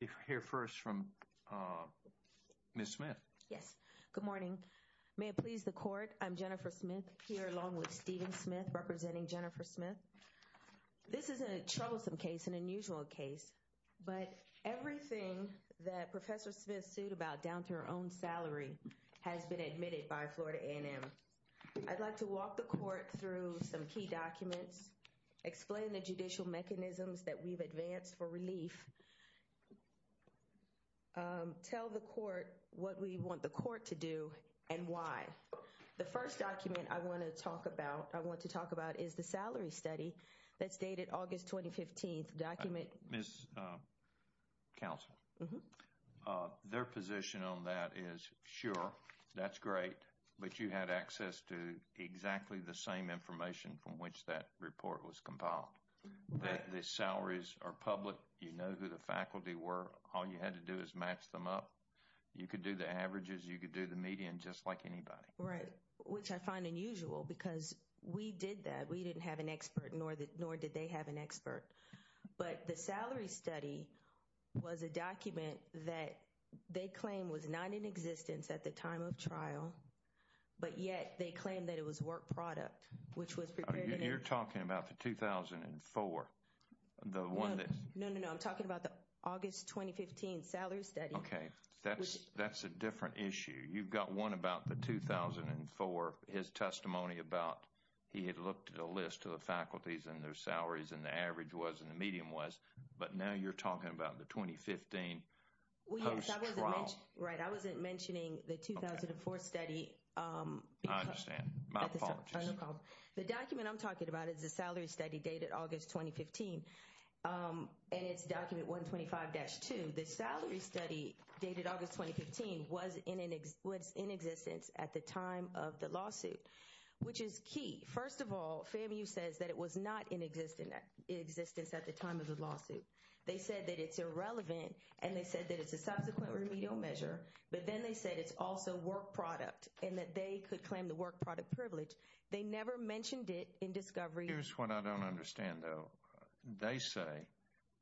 If I hear first from Miss Smith. Yes. Good morning. May it please the court. I'm Jennifer Smith here along with Stephen Smith representing Jennifer Smith. This is a troublesome case, an unusual case, but everything that Professor Smith sued about down to her own salary has been admitted by Florida A&M. I'd like to walk the court through some key documents, explain the judicial mechanisms that we've advanced for relief, tell the court what we want the court to do and why. The first document I want to talk about, I want to talk about is the salary study that's dated August 2015. Miss Counsel, their position on that is sure, that's great, but you had access to exactly the same information from which that report was compiled. The salaries are public. You know who the faculty were. All you had to do is match them up. You could do the averages, you could do the median, just like anybody. Right, which I find unusual because we did that. We didn't have an expert, nor did they have an expert. But the salary study was a document that they claim was not in existence at the time of trial. But yet, they claim that it was work product, which was prepared in... You're talking about the 2004, the one that... No, no, no, I'm talking about the August 2015 salary study. Okay, that's a different issue. You've got one about the 2004, his testimony about he had looked at a list of the faculties and their salaries and the average was and the median was. But now you're talking about the 2015 post-trial. Right, I wasn't mentioning the 2004 study. I understand. My apologies. The document I'm talking about is the salary study dated August 2015 and it's document 125-2. The salary study dated August 2015 was in existence at the time of the lawsuit, which is key. First of all, FAMU says that it was not in existence at the time of the lawsuit. They said that it's irrelevant and they said that it's a subsequent remedial measure. But then they said it's also work product and that they could claim the work product privilege. They never mentioned it in discovery. Here's what I don't understand, though. They say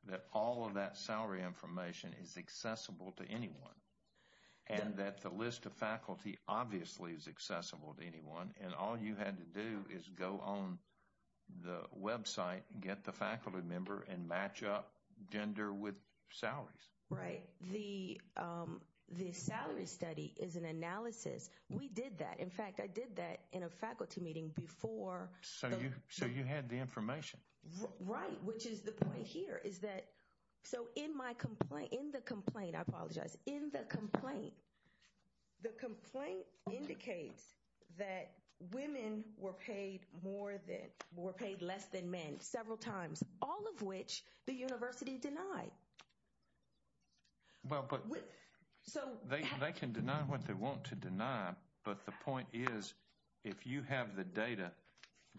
that all of that salary information is accessible to anyone and that the list of faculty obviously is accessible to anyone. And all you had to do is go on the website, get the faculty member and match up gender with salaries. Right. The salary study is an analysis. We did that. In fact, I did that in a faculty meeting before. So you had the information. Right. Which is the point here is that. So in my complaint, in the complaint, I apologize. In the complaint, the complaint indicates that women were paid more than were paid less than men several times, all of which the university denied. Well, but so they can deny what they want to deny. But the point is, if you have the data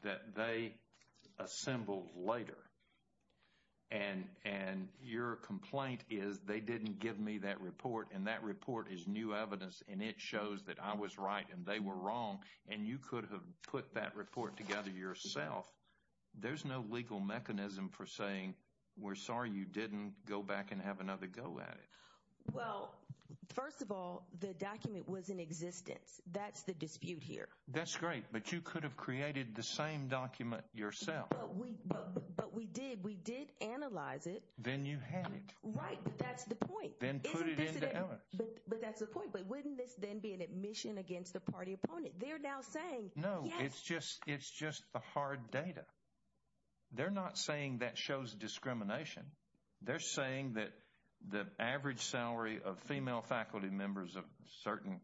that they assembled later. And and your complaint is they didn't give me that report. And that report is new evidence. And it shows that I was right and they were wrong. And you could have put that report together yourself. There's no legal mechanism for saying we're sorry you didn't go back and have another go at it. Well, first of all, the document was in existence. That's the dispute here. That's great. But you could have created the same document yourself. But we did. We did analyze it. Then you had it right. That's the point. Then put it in. But that's the point. But wouldn't this then be an admission against the party opponent? They're now saying, no, it's just it's just the hard data. They're not saying that shows discrimination. They're saying that the average salary of female faculty members of certain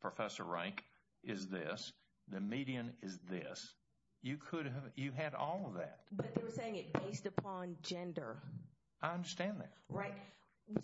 professor rank is this. The median is this. You could have you had all of that. But they were saying it based upon gender. I understand that. Right.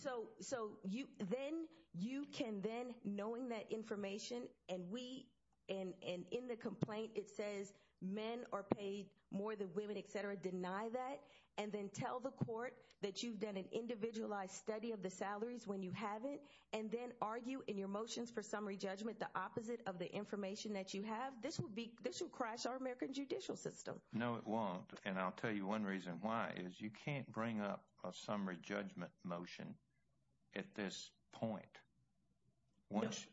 So so you then you can then knowing that information and we and in the complaint, it says men are paid more than women, etc. Deny that. And then tell the court that you've done an individualized study of the salaries when you have it. And then argue in your motions for summary judgment the opposite of the information that you have. This will be this will crash our American judicial system. No, it won't. And I'll tell you one reason why is you can't bring up a summary judgment motion at this point. Once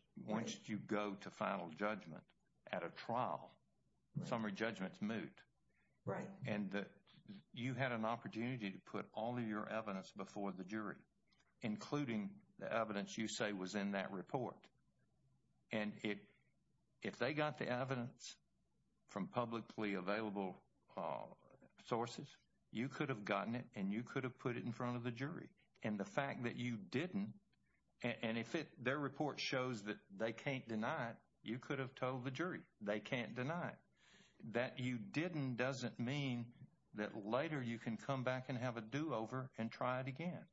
you go to final judgment at a trial, summary judgments moot. Right. And you had an opportunity to put all of your evidence before the jury, including the evidence you say was in that report. And if they got the evidence from publicly available sources, you could have gotten it and you could have put it in front of the jury. And the fact that you didn't. And if their report shows that they can't deny it, you could have told the jury they can't deny that you didn't. Doesn't mean that later you can come back and have a do over and try it again.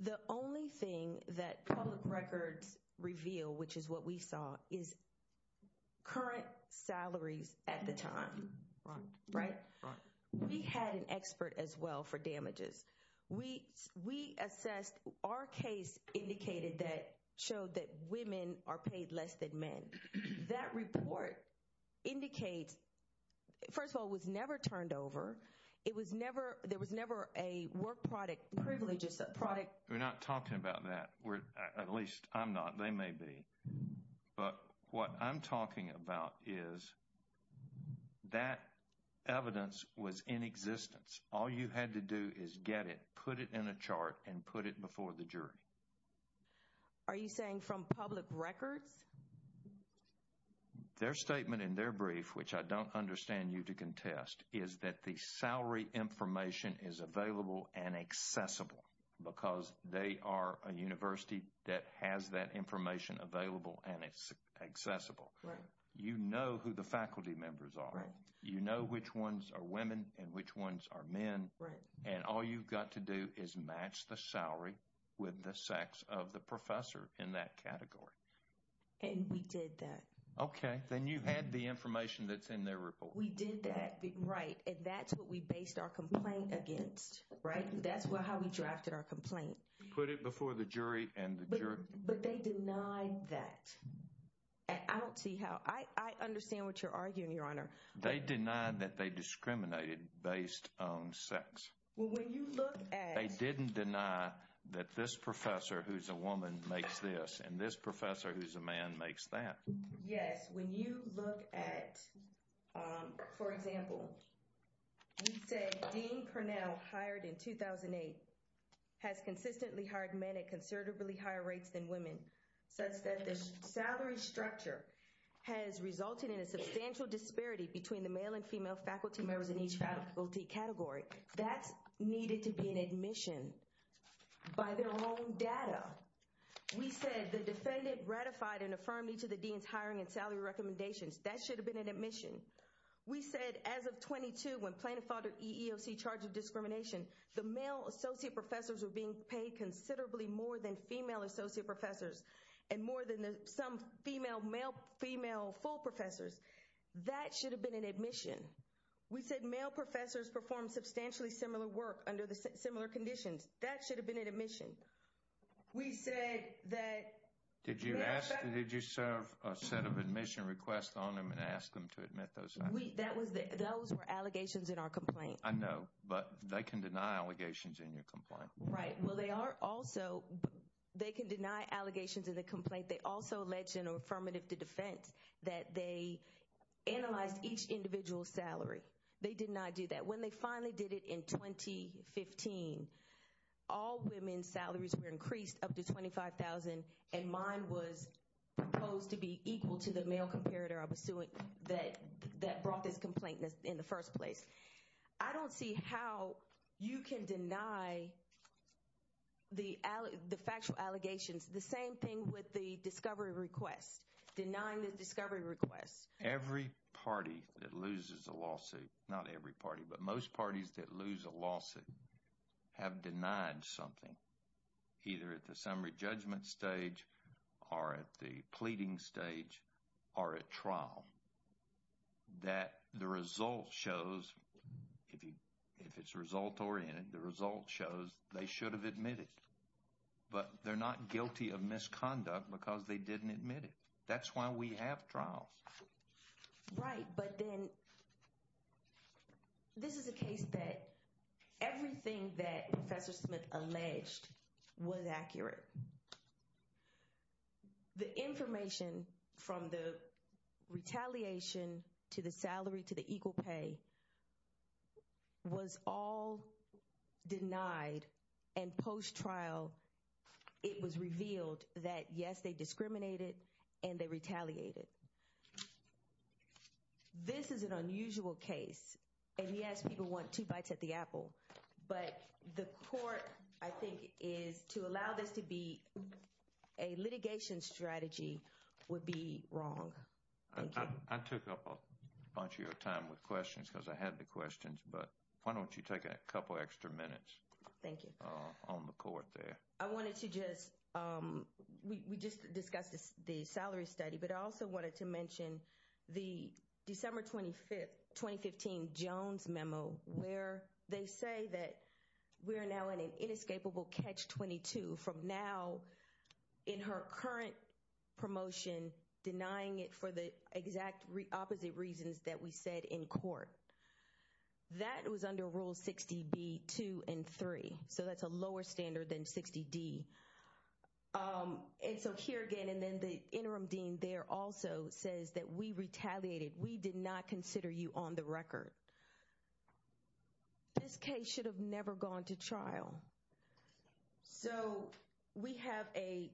The only thing that public records reveal, which is what we saw, is current salaries at the time. Right. We had an expert as well for damages. We we assessed our case indicated that showed that women are paid less than men. That report indicates, first of all, was never turned over. It was never there was never a work product. Privileges of product. We're not talking about that. We're at least I'm not. They may be. But what I'm talking about is that evidence was in existence. All you had to do is get it, put it in a chart and put it before the jury. Are you saying from public records? Their statement in their brief, which I don't understand you to contest, is that the salary information is available and accessible because they are a university that has that information available and accessible. You know who the faculty members are. You know which ones are women and which ones are men. Right. And all you've got to do is match the salary with the sex of the professor in that category. And we did that. OK, then you had the information that's in their report. We did that. Right. And that's what we based our complaint against. Right. That's how we drafted our complaint. Put it before the jury and the jury. But they denied that. I don't see how I understand what you're arguing, Your Honor. They denied that they discriminated based on sex. Well, when you look at. They didn't deny that this professor who's a woman makes this and this professor who's a man makes that. Yes, when you look at, for example, we say Dean Purnell hired in 2008 has consistently hired men at considerably higher rates than women, such that the salary structure has resulted in a substantial disparity between the male and female faculty members in each faculty category. That's needed to be an admission by their own data. We said the defendant ratified and affirmed each of the dean's hiring and salary recommendations. That should have been an admission. We said as of 22, when Plano filed an EEOC charge of discrimination, the male associate professors were being paid considerably more than female associate professors and more than some female male female full professors. That should have been an admission. We said male professors performed substantially similar work under similar conditions. That should have been an admission. We said that. Did you ask? Did you serve a set of admission requests on them and ask them to admit those? That was that. Those were allegations in our complaint. I know, but they can deny allegations in your complaint. Right. Well, they are also they can deny allegations in the complaint. They also alleged an affirmative to defense that they analyzed each individual salary. They did not do that when they finally did it in 2015. All women's salaries were increased up to $25,000, and mine was proposed to be equal to the male comparator I was suing that brought this complaint in the first place. I don't see how you can deny the factual allegations. The same thing with the discovery request, denying the discovery request. Every party that loses a lawsuit, not every party, but most parties that lose a lawsuit have denied something, either at the summary judgment stage or at the pleading stage or at trial, that the result shows, if it's result oriented, the result shows they should have admitted. But they're not guilty of misconduct because they didn't admit it. That's why we have trials. Right. But then this is a case that everything that Professor Smith alleged was accurate. The information from the retaliation to the salary to the equal pay was all denied. And post trial, it was revealed that, yes, they discriminated and they retaliated. This is an unusual case. And, yes, people want two bites at the apple. But the court, I think, is to allow this to be a litigation strategy would be wrong. I took up a bunch of your time with questions because I had the questions. But why don't you take a couple of extra minutes on the court there? Thank you. I wanted to just, we just discussed the salary study. But I also wanted to mention the December 25th, 2015, Jones memo, where they say that we are now in an inescapable catch 22 from now in her current promotion, denying it for the exact opposite reasons that we said in court. That was under Rule 60B-2 and 3. So that's a lower standard than 60D. And so here again, and then the interim dean there also says that we retaliated. We did not consider you on the record. This case should have never gone to trial. So we have a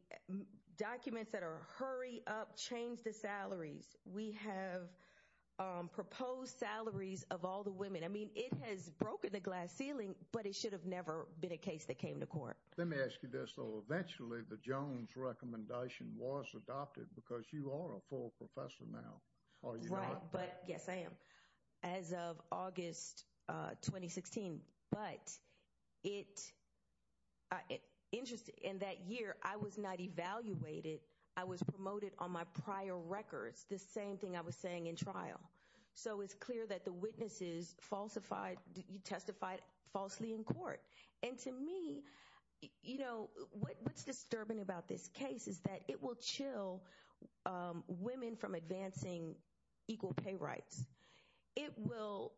document that are hurry up, change the salaries. We have proposed salaries of all the women. I mean, it has broken the glass ceiling, but it should have never been a case that came to court. Let me ask you this, though. Eventually, the Jones recommendation was adopted because you are a full professor now. Right. But yes, I am. As of August 2016. But in that year, I was not evaluated. I was promoted on my prior records. The same thing I was saying in trial. So it's clear that the witnesses falsified, testified falsely in court. And to me, you know, what's disturbing about this case is that it will chill women from advancing equal pay rights. It will.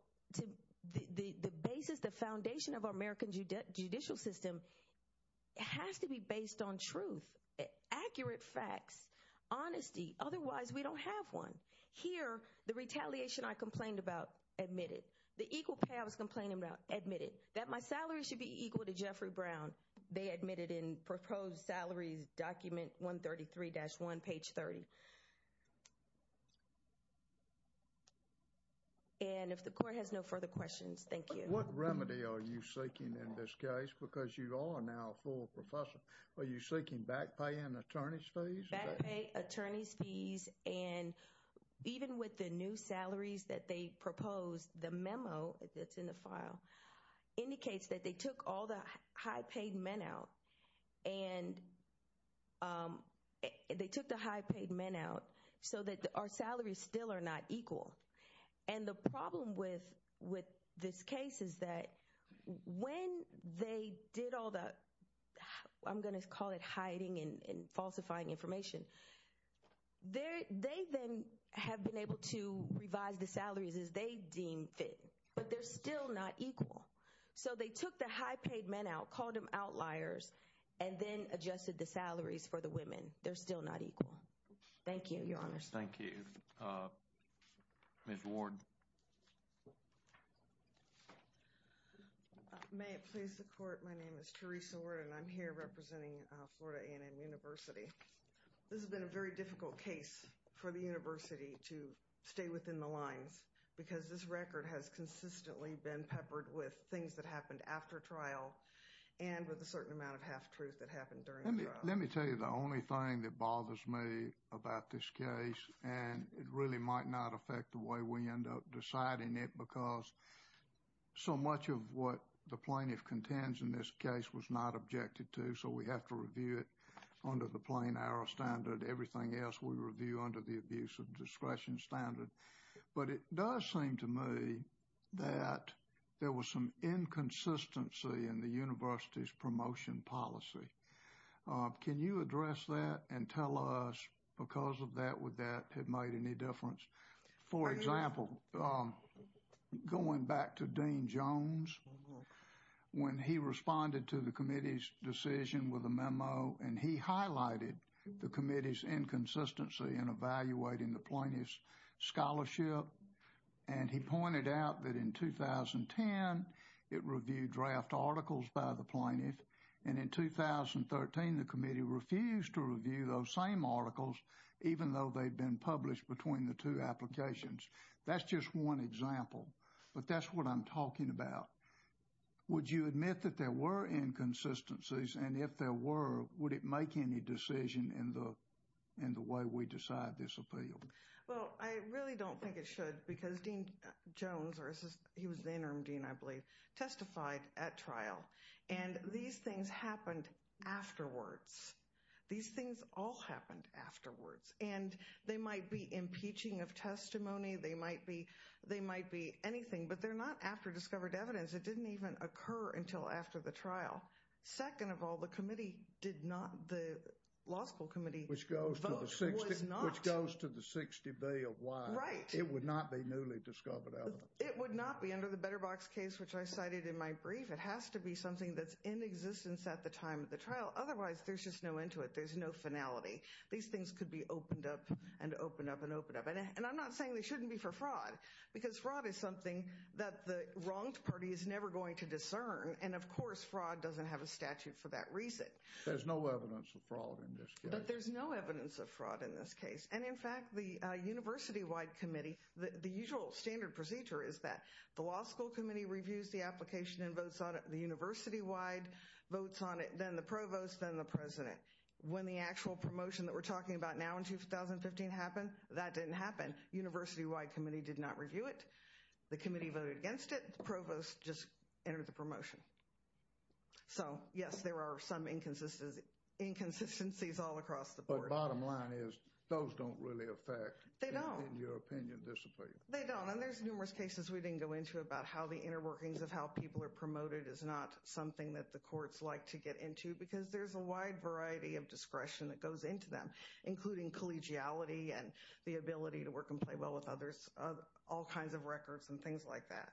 The basis, the foundation of our American judicial system has to be based on truth. Accurate facts. Honesty. Otherwise, we don't have one. Here, the retaliation I complained about, admitted. The equal pay I was complaining about, admitted. That my salary should be equal to Jeffrey Brown. They admitted in proposed salaries document 133-1, page 30. And if the court has no further questions, thank you. What remedy are you seeking in this case? Because you are now a full professor. Are you seeking back pay and attorney's fees? Back pay, attorney's fees, and even with the new salaries that they proposed, the memo that's in the file indicates that they took all the high paid men out. And they took the high paid men out so that our salaries still are not equal. And the problem with this case is that when they did all the, I'm going to call it hiding and falsifying information, they then have been able to revise the salaries as they deemed fit. But they're still not equal. So they took the high paid men out, called them outliers, and then adjusted the salaries for the women. They're still not equal. Thank you, your honor. Thank you. Ms. Ward. May it please the court, my name is Teresa Ward and I'm here representing Florida A&M University. This has been a very difficult case for the university to stay within the lines because this record has consistently been peppered with things that happened after trial and with a certain amount of half-truth that happened during the trial. Let me tell you the only thing that bothers me about this case, and it really might not affect the way we end up deciding it because so much of what the plaintiff contends in this case was not objected to. So we have to review it under the plain arrow standard. Everything else we review under the abuse of discretion standard. But it does seem to me that there was some inconsistency in the university's promotion policy. Can you address that and tell us because of that, would that have made any difference? For example, going back to Dean Jones, when he responded to the committee's decision with a memo and he highlighted the committee's inconsistency in evaluating the plaintiff's scholarship and he pointed out that in 2010 it reviewed draft articles by the plaintiff and in 2013 the committee refused to review those same articles even though they'd been published between the two applications. That's just one example, but that's what I'm talking about. Would you admit that there were inconsistencies and if there were, would it make any decision in the way we decide this appeal? Well, I really don't think it should because Dean Jones, he was the interim dean I believe, testified at trial. And these things happened afterwards. These things all happened afterwards. And they might be impeaching of testimony. They might be anything, but they're not after discovered evidence. It didn't even occur until after the trial. Second of all, the committee did not, the law school committee vote was not. Which goes to the 60B of why it would not be newly discovered evidence. It would not be under the BetterBox case which I cited in my brief. It has to be something that's in existence at the time of the trial. Otherwise, there's just no end to it. There's no finality. These things could be opened up and opened up and opened up. And I'm not saying they shouldn't be for fraud because fraud is something that the wronged party is never going to discern. And of course, fraud doesn't have a statute for that reason. There's no evidence of fraud in this case. But there's no evidence of fraud in this case. And in fact, the university-wide committee, the usual standard procedure is that the law school committee reviews the application and votes on it, the university-wide votes on it, then the provost, then the president. When the actual promotion that we're talking about now in 2015 happened, that didn't happen. University-wide committee did not review it. The committee voted against it. The provost just entered the promotion. So, yes, there are some inconsistencies all across the board. But bottom line is those don't really affect, in your opinion, discipline. They don't. And there's numerous cases we didn't go into about how the inner workings of how people are promoted is not something that the courts like to get into because there's a wide variety of discretion that goes into them, including collegiality and the ability to work and play well with others, all kinds of records and things like that.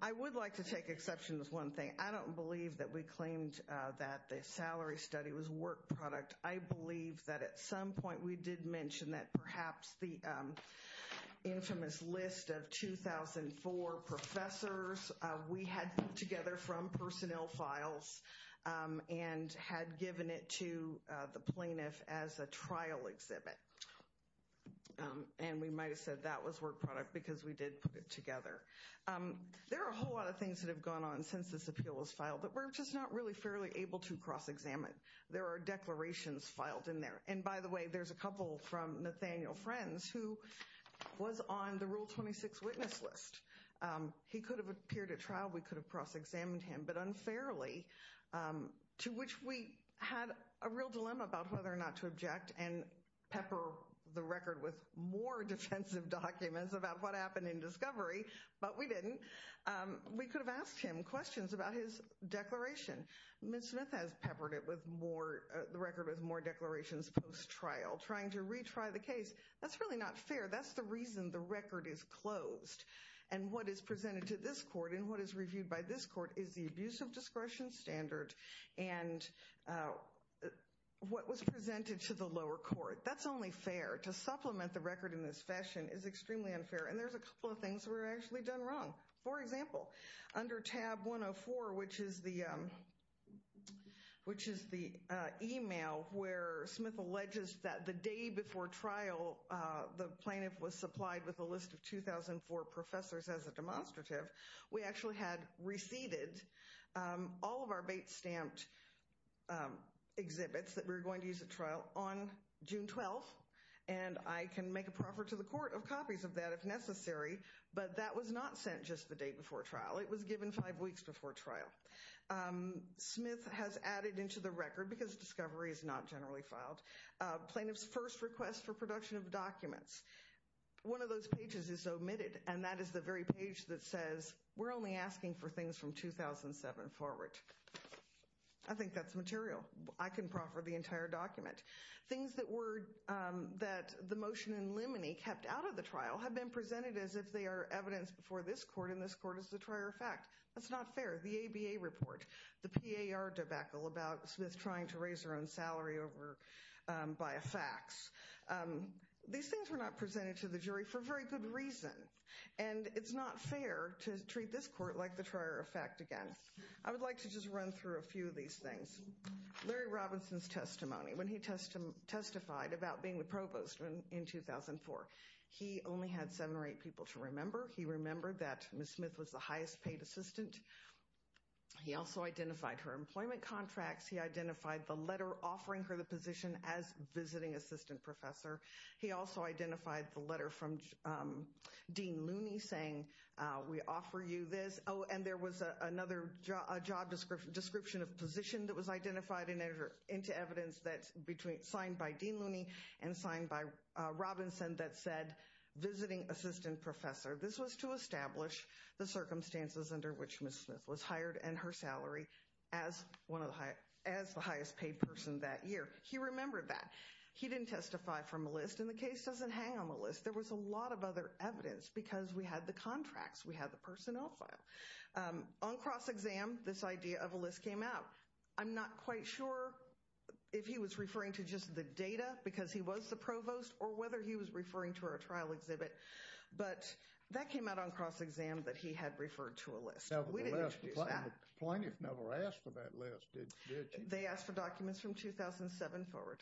I would like to take exception to one thing. I don't believe that we claimed that the salary study was a work product. I believe that at some point we did mention that perhaps the infamous list of 2004 professors we had put together from personnel files and had given it to the plaintiff as a trial exhibit. And we might have said that was work product because we did put it together. There are a whole lot of things that have gone on since this appeal was filed that we're just not really fairly able to cross-examine. There are declarations filed in there. And by the way, there's a couple from Nathaniel Friends who was on the Rule 26 witness list. He could have appeared at trial. We could have cross-examined him. But unfairly, to which we had a real dilemma about whether or not to object and pepper the record with more defensive documents about what happened in discovery, but we didn't, we could have asked him questions about his declaration. Ms. Smith has peppered the record with more declarations post-trial, trying to retry the case. That's really not fair. That's the reason the record is closed. And what is presented to this court and what is reviewed by this court is the abuse of discretion standard and what was presented to the lower court. That's only fair. To supplement the record in this fashion is extremely unfair. And there's a couple of things that were actually done wrong. For example, under tab 104, which is the email where Smith alleges that the day before trial, the plaintiff was supplied with a list of 2004 professors as a demonstrative. We actually had receded all of our bait-stamped exhibits that we were going to use at trial on June 12th. And I can make a proffer to the court of copies of that if necessary. But that was not sent just the day before trial. It was given five weeks before trial. Smith has added into the record, because discovery is not generally filed, plaintiff's first request for production of documents. One of those pages is omitted, and that is the very page that says we're only asking for things from 2007 forward. I think that's material. I can proffer the entire document. Things that the motion in limine kept out of the trial have been presented as if they are evidence before this court, and this court is the trier of fact. That's not fair. The ABA report, the PAR debacle about Smith trying to raise her own salary by a fax. These things were not presented to the jury for very good reason. And it's not fair to treat this court like the trier of fact again. I would like to just run through a few of these things. Larry Robinson's testimony. When he testified about being the provost in 2004, he only had seven or eight people to remember. He remembered that Ms. Smith was the highest paid assistant. He also identified her employment contracts. He identified the letter offering her the position as visiting assistant professor. He also identified the letter from Dean Looney saying we offer you this. Oh, and there was another job description of position that was identified into evidence that's signed by Dean Looney and signed by Robinson that said visiting assistant professor. This was to establish the circumstances under which Ms. Smith was hired and her salary as the highest paid person that year. He remembered that. He didn't testify from a list, and the case doesn't hang on the list. There was a lot of other evidence because we had the contracts. We had the personnel file. On cross-exam, this idea of a list came out. I'm not quite sure if he was referring to just the data because he was the provost or whether he was referring to our trial exhibit. But that came out on cross-exam that he had referred to a list. We didn't introduce that. The plaintiff never asked for that list, did she? They asked for documents from 2007 forward.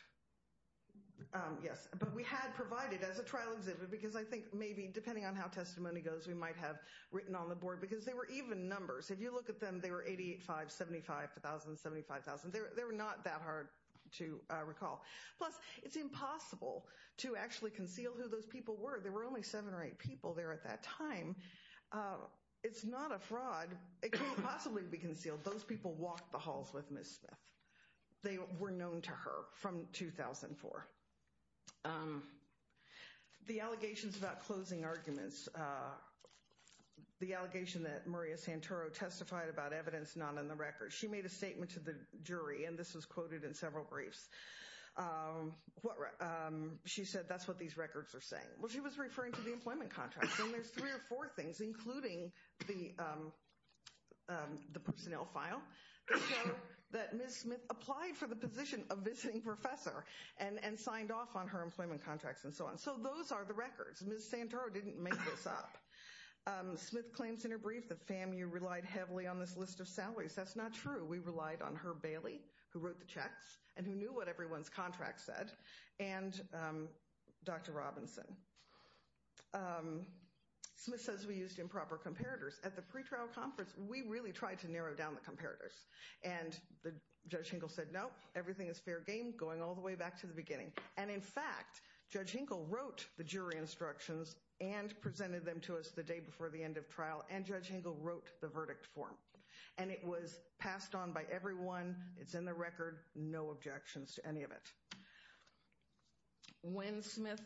Yes, but we had provided as a trial exhibit because I think maybe depending on how testimony goes, we might have written on the board because they were even numbers. If you look at them, they were 885, 75,000, 75,000. They were not that hard to recall. Plus, it's impossible to actually conceal who those people were. There were only seven or eight people there at that time. It's not a fraud. It couldn't possibly be concealed. Those people walked the halls with Ms. Smith. They were known to her from 2004. The allegations about closing arguments. The allegation that Maria Santoro testified about evidence not on the record. She made a statement to the jury, and this was quoted in several briefs. She said that's what these records are saying. Well, she was referring to the employment contract. And there's three or four things, including the personnel file, that show that Ms. Smith applied for the position of visiting professor and signed off on her employment contracts and so on. So those are the records. Ms. Santoro didn't make this up. Smith claims in her brief that FAMU relied heavily on this list of salaries. That's not true. We relied on Herb Bailey, who wrote the checks and who knew what everyone's contract said, and Dr. Robinson. Smith says we used improper comparators. At the pretrial conference, we really tried to narrow down the comparators. And Judge Hinkle said, no, everything is fair game, going all the way back to the beginning. And, in fact, Judge Hinkle wrote the jury instructions and presented them to us the day before the end of trial. And Judge Hinkle wrote the verdict form. It's in the record. No objections to any of it. When Smith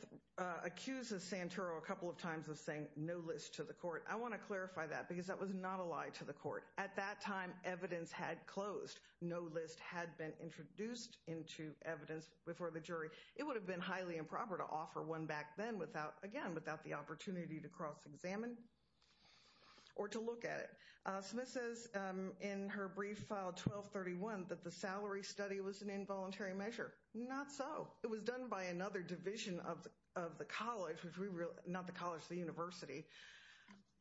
accuses Santoro a couple of times of saying no list to the court, I want to clarify that because that was not a lie to the court. At that time, evidence had closed. No list had been introduced into evidence before the jury. It would have been highly improper to offer one back then without, again, without the opportunity to cross-examine or to look at it. Smith says in her brief file 1231 that the salary study was an involuntary measure. Not so. It was done by another division of the college, not the college, the university.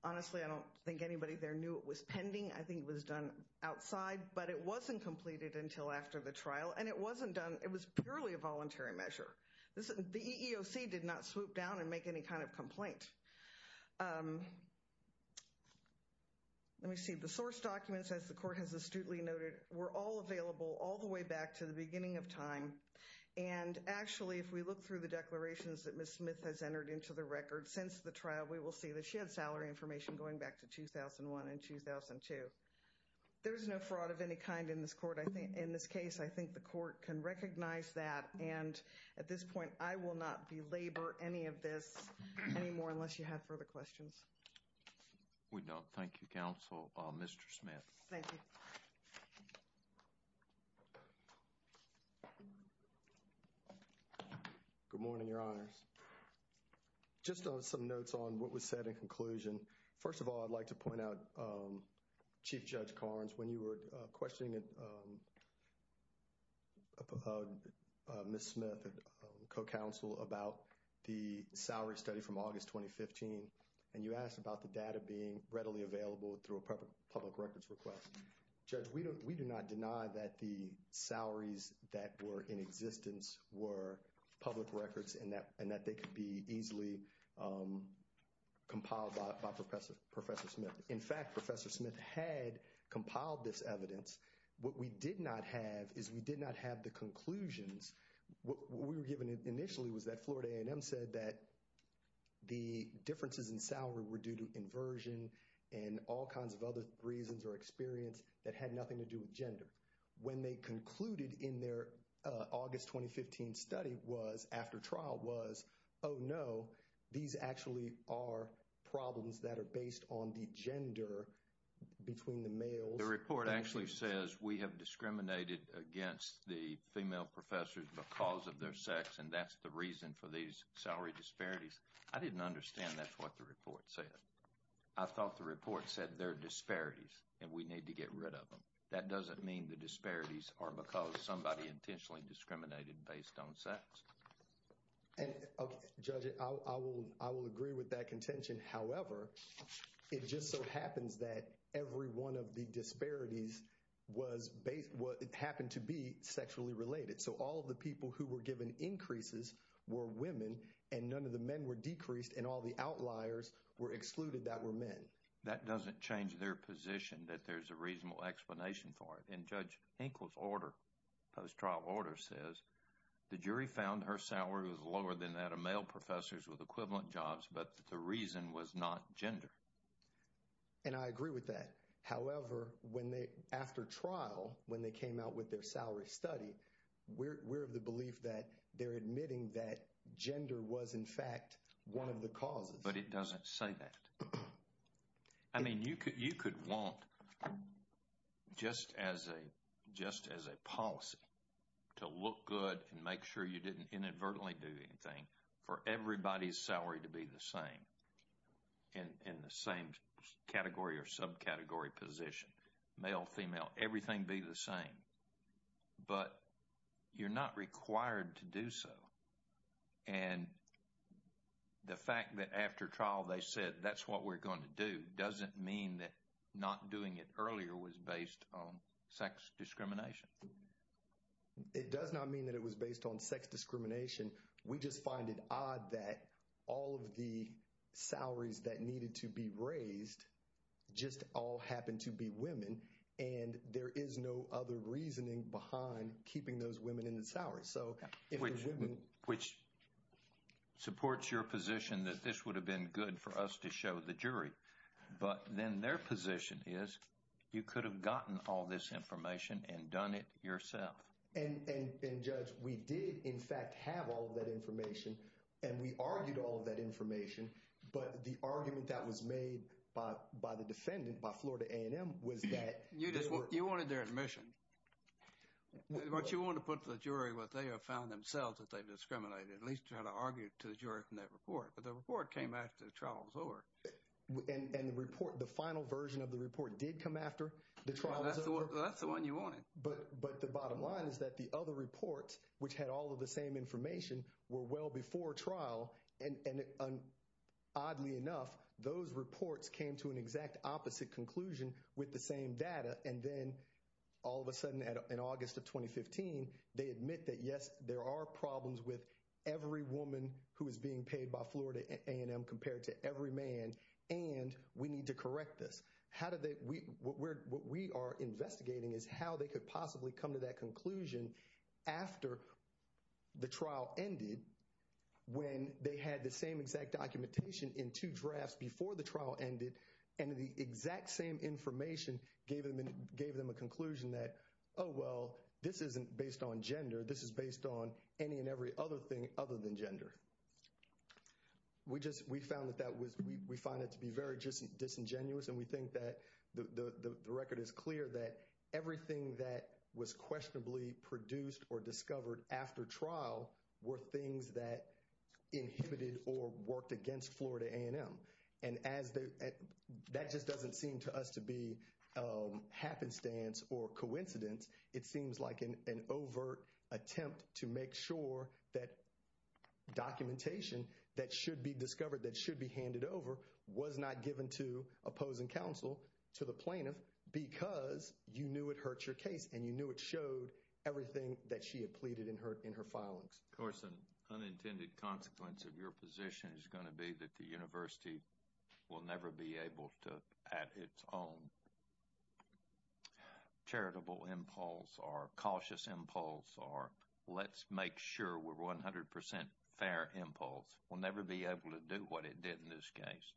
Honestly, I don't think anybody there knew it was pending. I think it was done outside, but it wasn't completed until after the trial. And it wasn't done, it was purely a voluntary measure. The EEOC did not swoop down and make any kind of complaint. Let me see. The source documents, as the court has astutely noted, were all available all the way back to the beginning of time. And actually, if we look through the declarations that Ms. Smith has entered into the record since the trial, we will see that she had salary information going back to 2001 and 2002. There's no fraud of any kind in this court. In this case, I think the court can recognize that. And at this point, I will not belabor any of this anymore unless you have further questions. We don't. Thank you, counsel. Mr. Smith. Thank you. Good morning, Your Honors. Just some notes on what was said in conclusion. First of all, I'd like to point out, Chief Judge Carnes, when you were questioning Ms. Smith, co-counsel, about the salary study from August 2015, and you asked about the data being readily available through a public records request. Judge, we do not deny that the salaries that were in existence were public records and that they could be easily compiled by Professor Smith. In fact, Professor Smith had compiled this evidence. What we did not have is we did not have the conclusions. What we were given initially was that Florida A&M said that the differences in salary were due to inversion and all kinds of other reasons or experience that had nothing to do with gender. When they concluded in their August 2015 study was, after trial was, oh no, these actually are problems that are based on the gender between the males. The report actually says we have discriminated against the female professors because of their sex and that's the reason for these salary disparities. I didn't understand that's what the report said. I thought the report said there are disparities and we need to get rid of them. That doesn't mean the disparities are because somebody intentionally discriminated based on sex. Okay, Judge, I will agree with that contention. However, it just so happens that every one of the disparities happened to be sexually related. So all the people who were given increases were women and none of the men were decreased and all the outliers were excluded that were men. That doesn't change their position that there's a reasonable explanation for it. And Judge Hinkle's post-trial order says the jury found her salary was lower than that of male professors with equivalent jobs but the reason was not gender. And I agree with that. However, after trial, when they came out with their salary study, we're of the belief that they're admitting that gender was in fact one of the causes. But it doesn't say that. I mean, you could want just as a policy to look good and make sure you didn't inadvertently do anything for everybody's salary to be the same in the same category or subcategory position. Male, female, everything be the same. But you're not required to do so. And the fact that after trial they said that's what we're going to do doesn't mean that not doing it earlier was based on sex discrimination. It does not mean that it was based on sex discrimination. We just find it odd that all of the salaries that needed to be raised just all happened to be women and there is no other reasoning behind keeping those women in the salaries. Which supports your position that this would have been good for us to show the jury. But then their position is you could have gotten all this information and done it yourself. And Judge, we did in fact have all of that information and we argued all of that information but the argument that was made by the defendant, by Florida A&M, was that You wanted their admission. But you want to put to the jury what they have found themselves that they've discriminated. At least try to argue to the jury from that report. But the report came after the trial was over. And the report, the final version of the report did come after the trial was over? That's the one you wanted. But the bottom line is that the other reports, which had all of the same information, were well before trial and oddly enough, those reports came to an exact opposite conclusion with the same data and then all of a sudden in August of 2015, they admit that yes, there are problems with every woman who is being paid by Florida A&M compared to every man and we need to correct this. What we are investigating is how they could possibly come to that conclusion after the trial ended when they had the same exact documentation in two drafts before the trial ended and the exact same information gave them a conclusion that oh well, this isn't based on gender. This is based on any and every other thing other than gender. We found that to be very disingenuous and we think that the record is clear that everything that was questionably produced or discovered after trial were things that inhibited or worked against Florida A&M. And that just doesn't seem to us to be happenstance or coincidence. It seems like an overt attempt to make sure that documentation that should be discovered, that should be handed over, was not given to opposing counsel, to the plaintiff, because you knew it hurt your case and you knew it showed everything that she had pleaded in her filings. Of course, an unintended consequence of your position is going to be that the university will never be able to, at its own charitable impulse or cautious impulse or let's make sure we're 100% fair impulse, will never be able to do what it did in this case.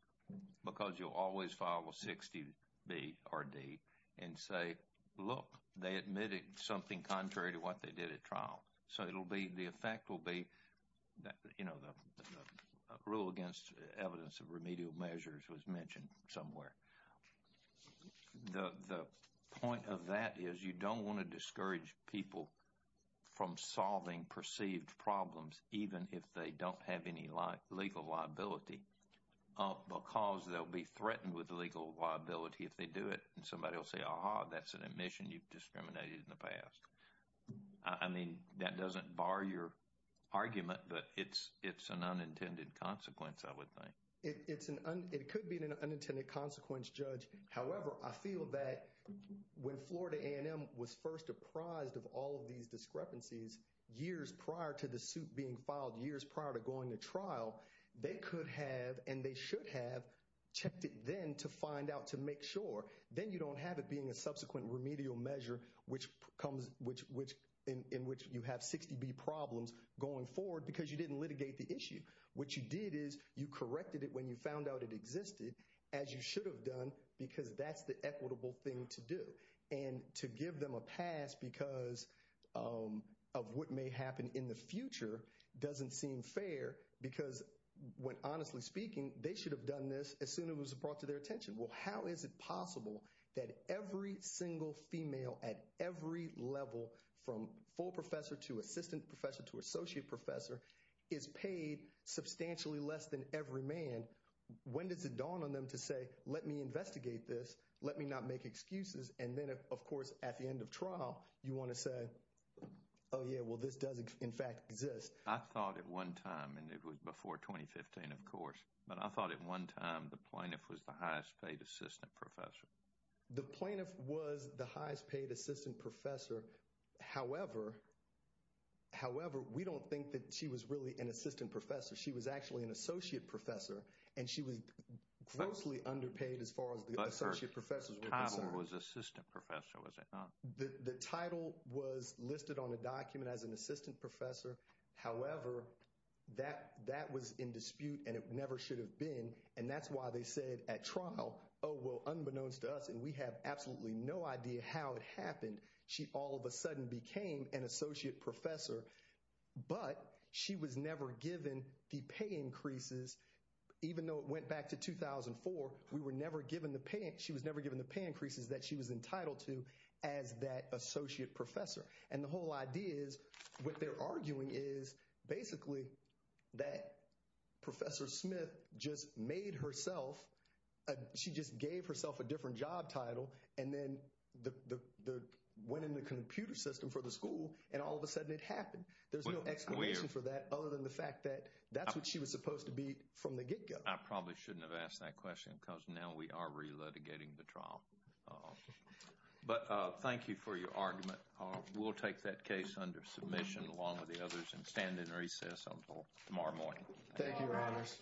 Because you'll always follow 60B or D and say look, they admitted something contrary to what they did at trial. So it'll be, the effect will be, you know, the rule against evidence of remedial measures was mentioned somewhere. The point of that is you don't want to discourage people from solving perceived problems even if they don't have any legal liability because they'll be threatened with legal liability if they do it. And somebody will say, aha, that's an admission you've discriminated in the past. I mean, that doesn't bar your argument, but it's an unintended consequence, I would think. It could be an unintended consequence, Judge. However, I feel that when Florida A&M was first apprised of all of these discrepancies years prior to the suit being filed, years prior to going to trial, they could have and they should have checked it then to find out, to make sure. Then you don't have it being a subsequent remedial measure in which you have 60B problems going forward because you didn't litigate the issue. What you did is you corrected it when you found out it existed, as you should have done, because that's the equitable thing to do. And to give them a pass because of what may happen in the future doesn't seem fair because when, honestly speaking, they should have done this as soon as it was brought to their attention. Well, how is it possible that every single female at every level, from full professor to assistant professor to associate professor, is paid substantially less than every man? When does it dawn on them to say, let me investigate this. Let me not make excuses. And then, of course, at the end of trial, you want to say, oh, yeah, well, this does, in fact, exist. I thought at one time, and it was before 2015, of course, but I thought at one time the plaintiff was the highest paid assistant professor. The plaintiff was the highest paid assistant professor. However, however, we don't think that she was really an assistant professor. She was actually an associate professor and she was closely underpaid as far as the associate professors were concerned. But her title was assistant professor, was it not? The title was listed on a document as an assistant professor. However, that that was in dispute and it never should have been. And that's why they said at trial, oh, well, unbeknownst to us and we have absolutely no idea how it happened. She all of a sudden became an associate professor, but she was never given the pay increases, even though it went back to 2004. We were never given the pay. She was never given the pay increases that she was entitled to as that associate professor. And the whole idea is what they're arguing is basically that Professor Smith just made herself. She just gave herself a different job title and then the winning the computer system for the school. And all of a sudden it happened. There's no explanation for that other than the fact that that's what she was supposed to be from the get go. I probably shouldn't have asked that question because now we are re-litigating the trial. But thank you for your argument. We'll take that case under submission along with the others and stand in recess until tomorrow morning. Thank you, Your Honors. Thank you.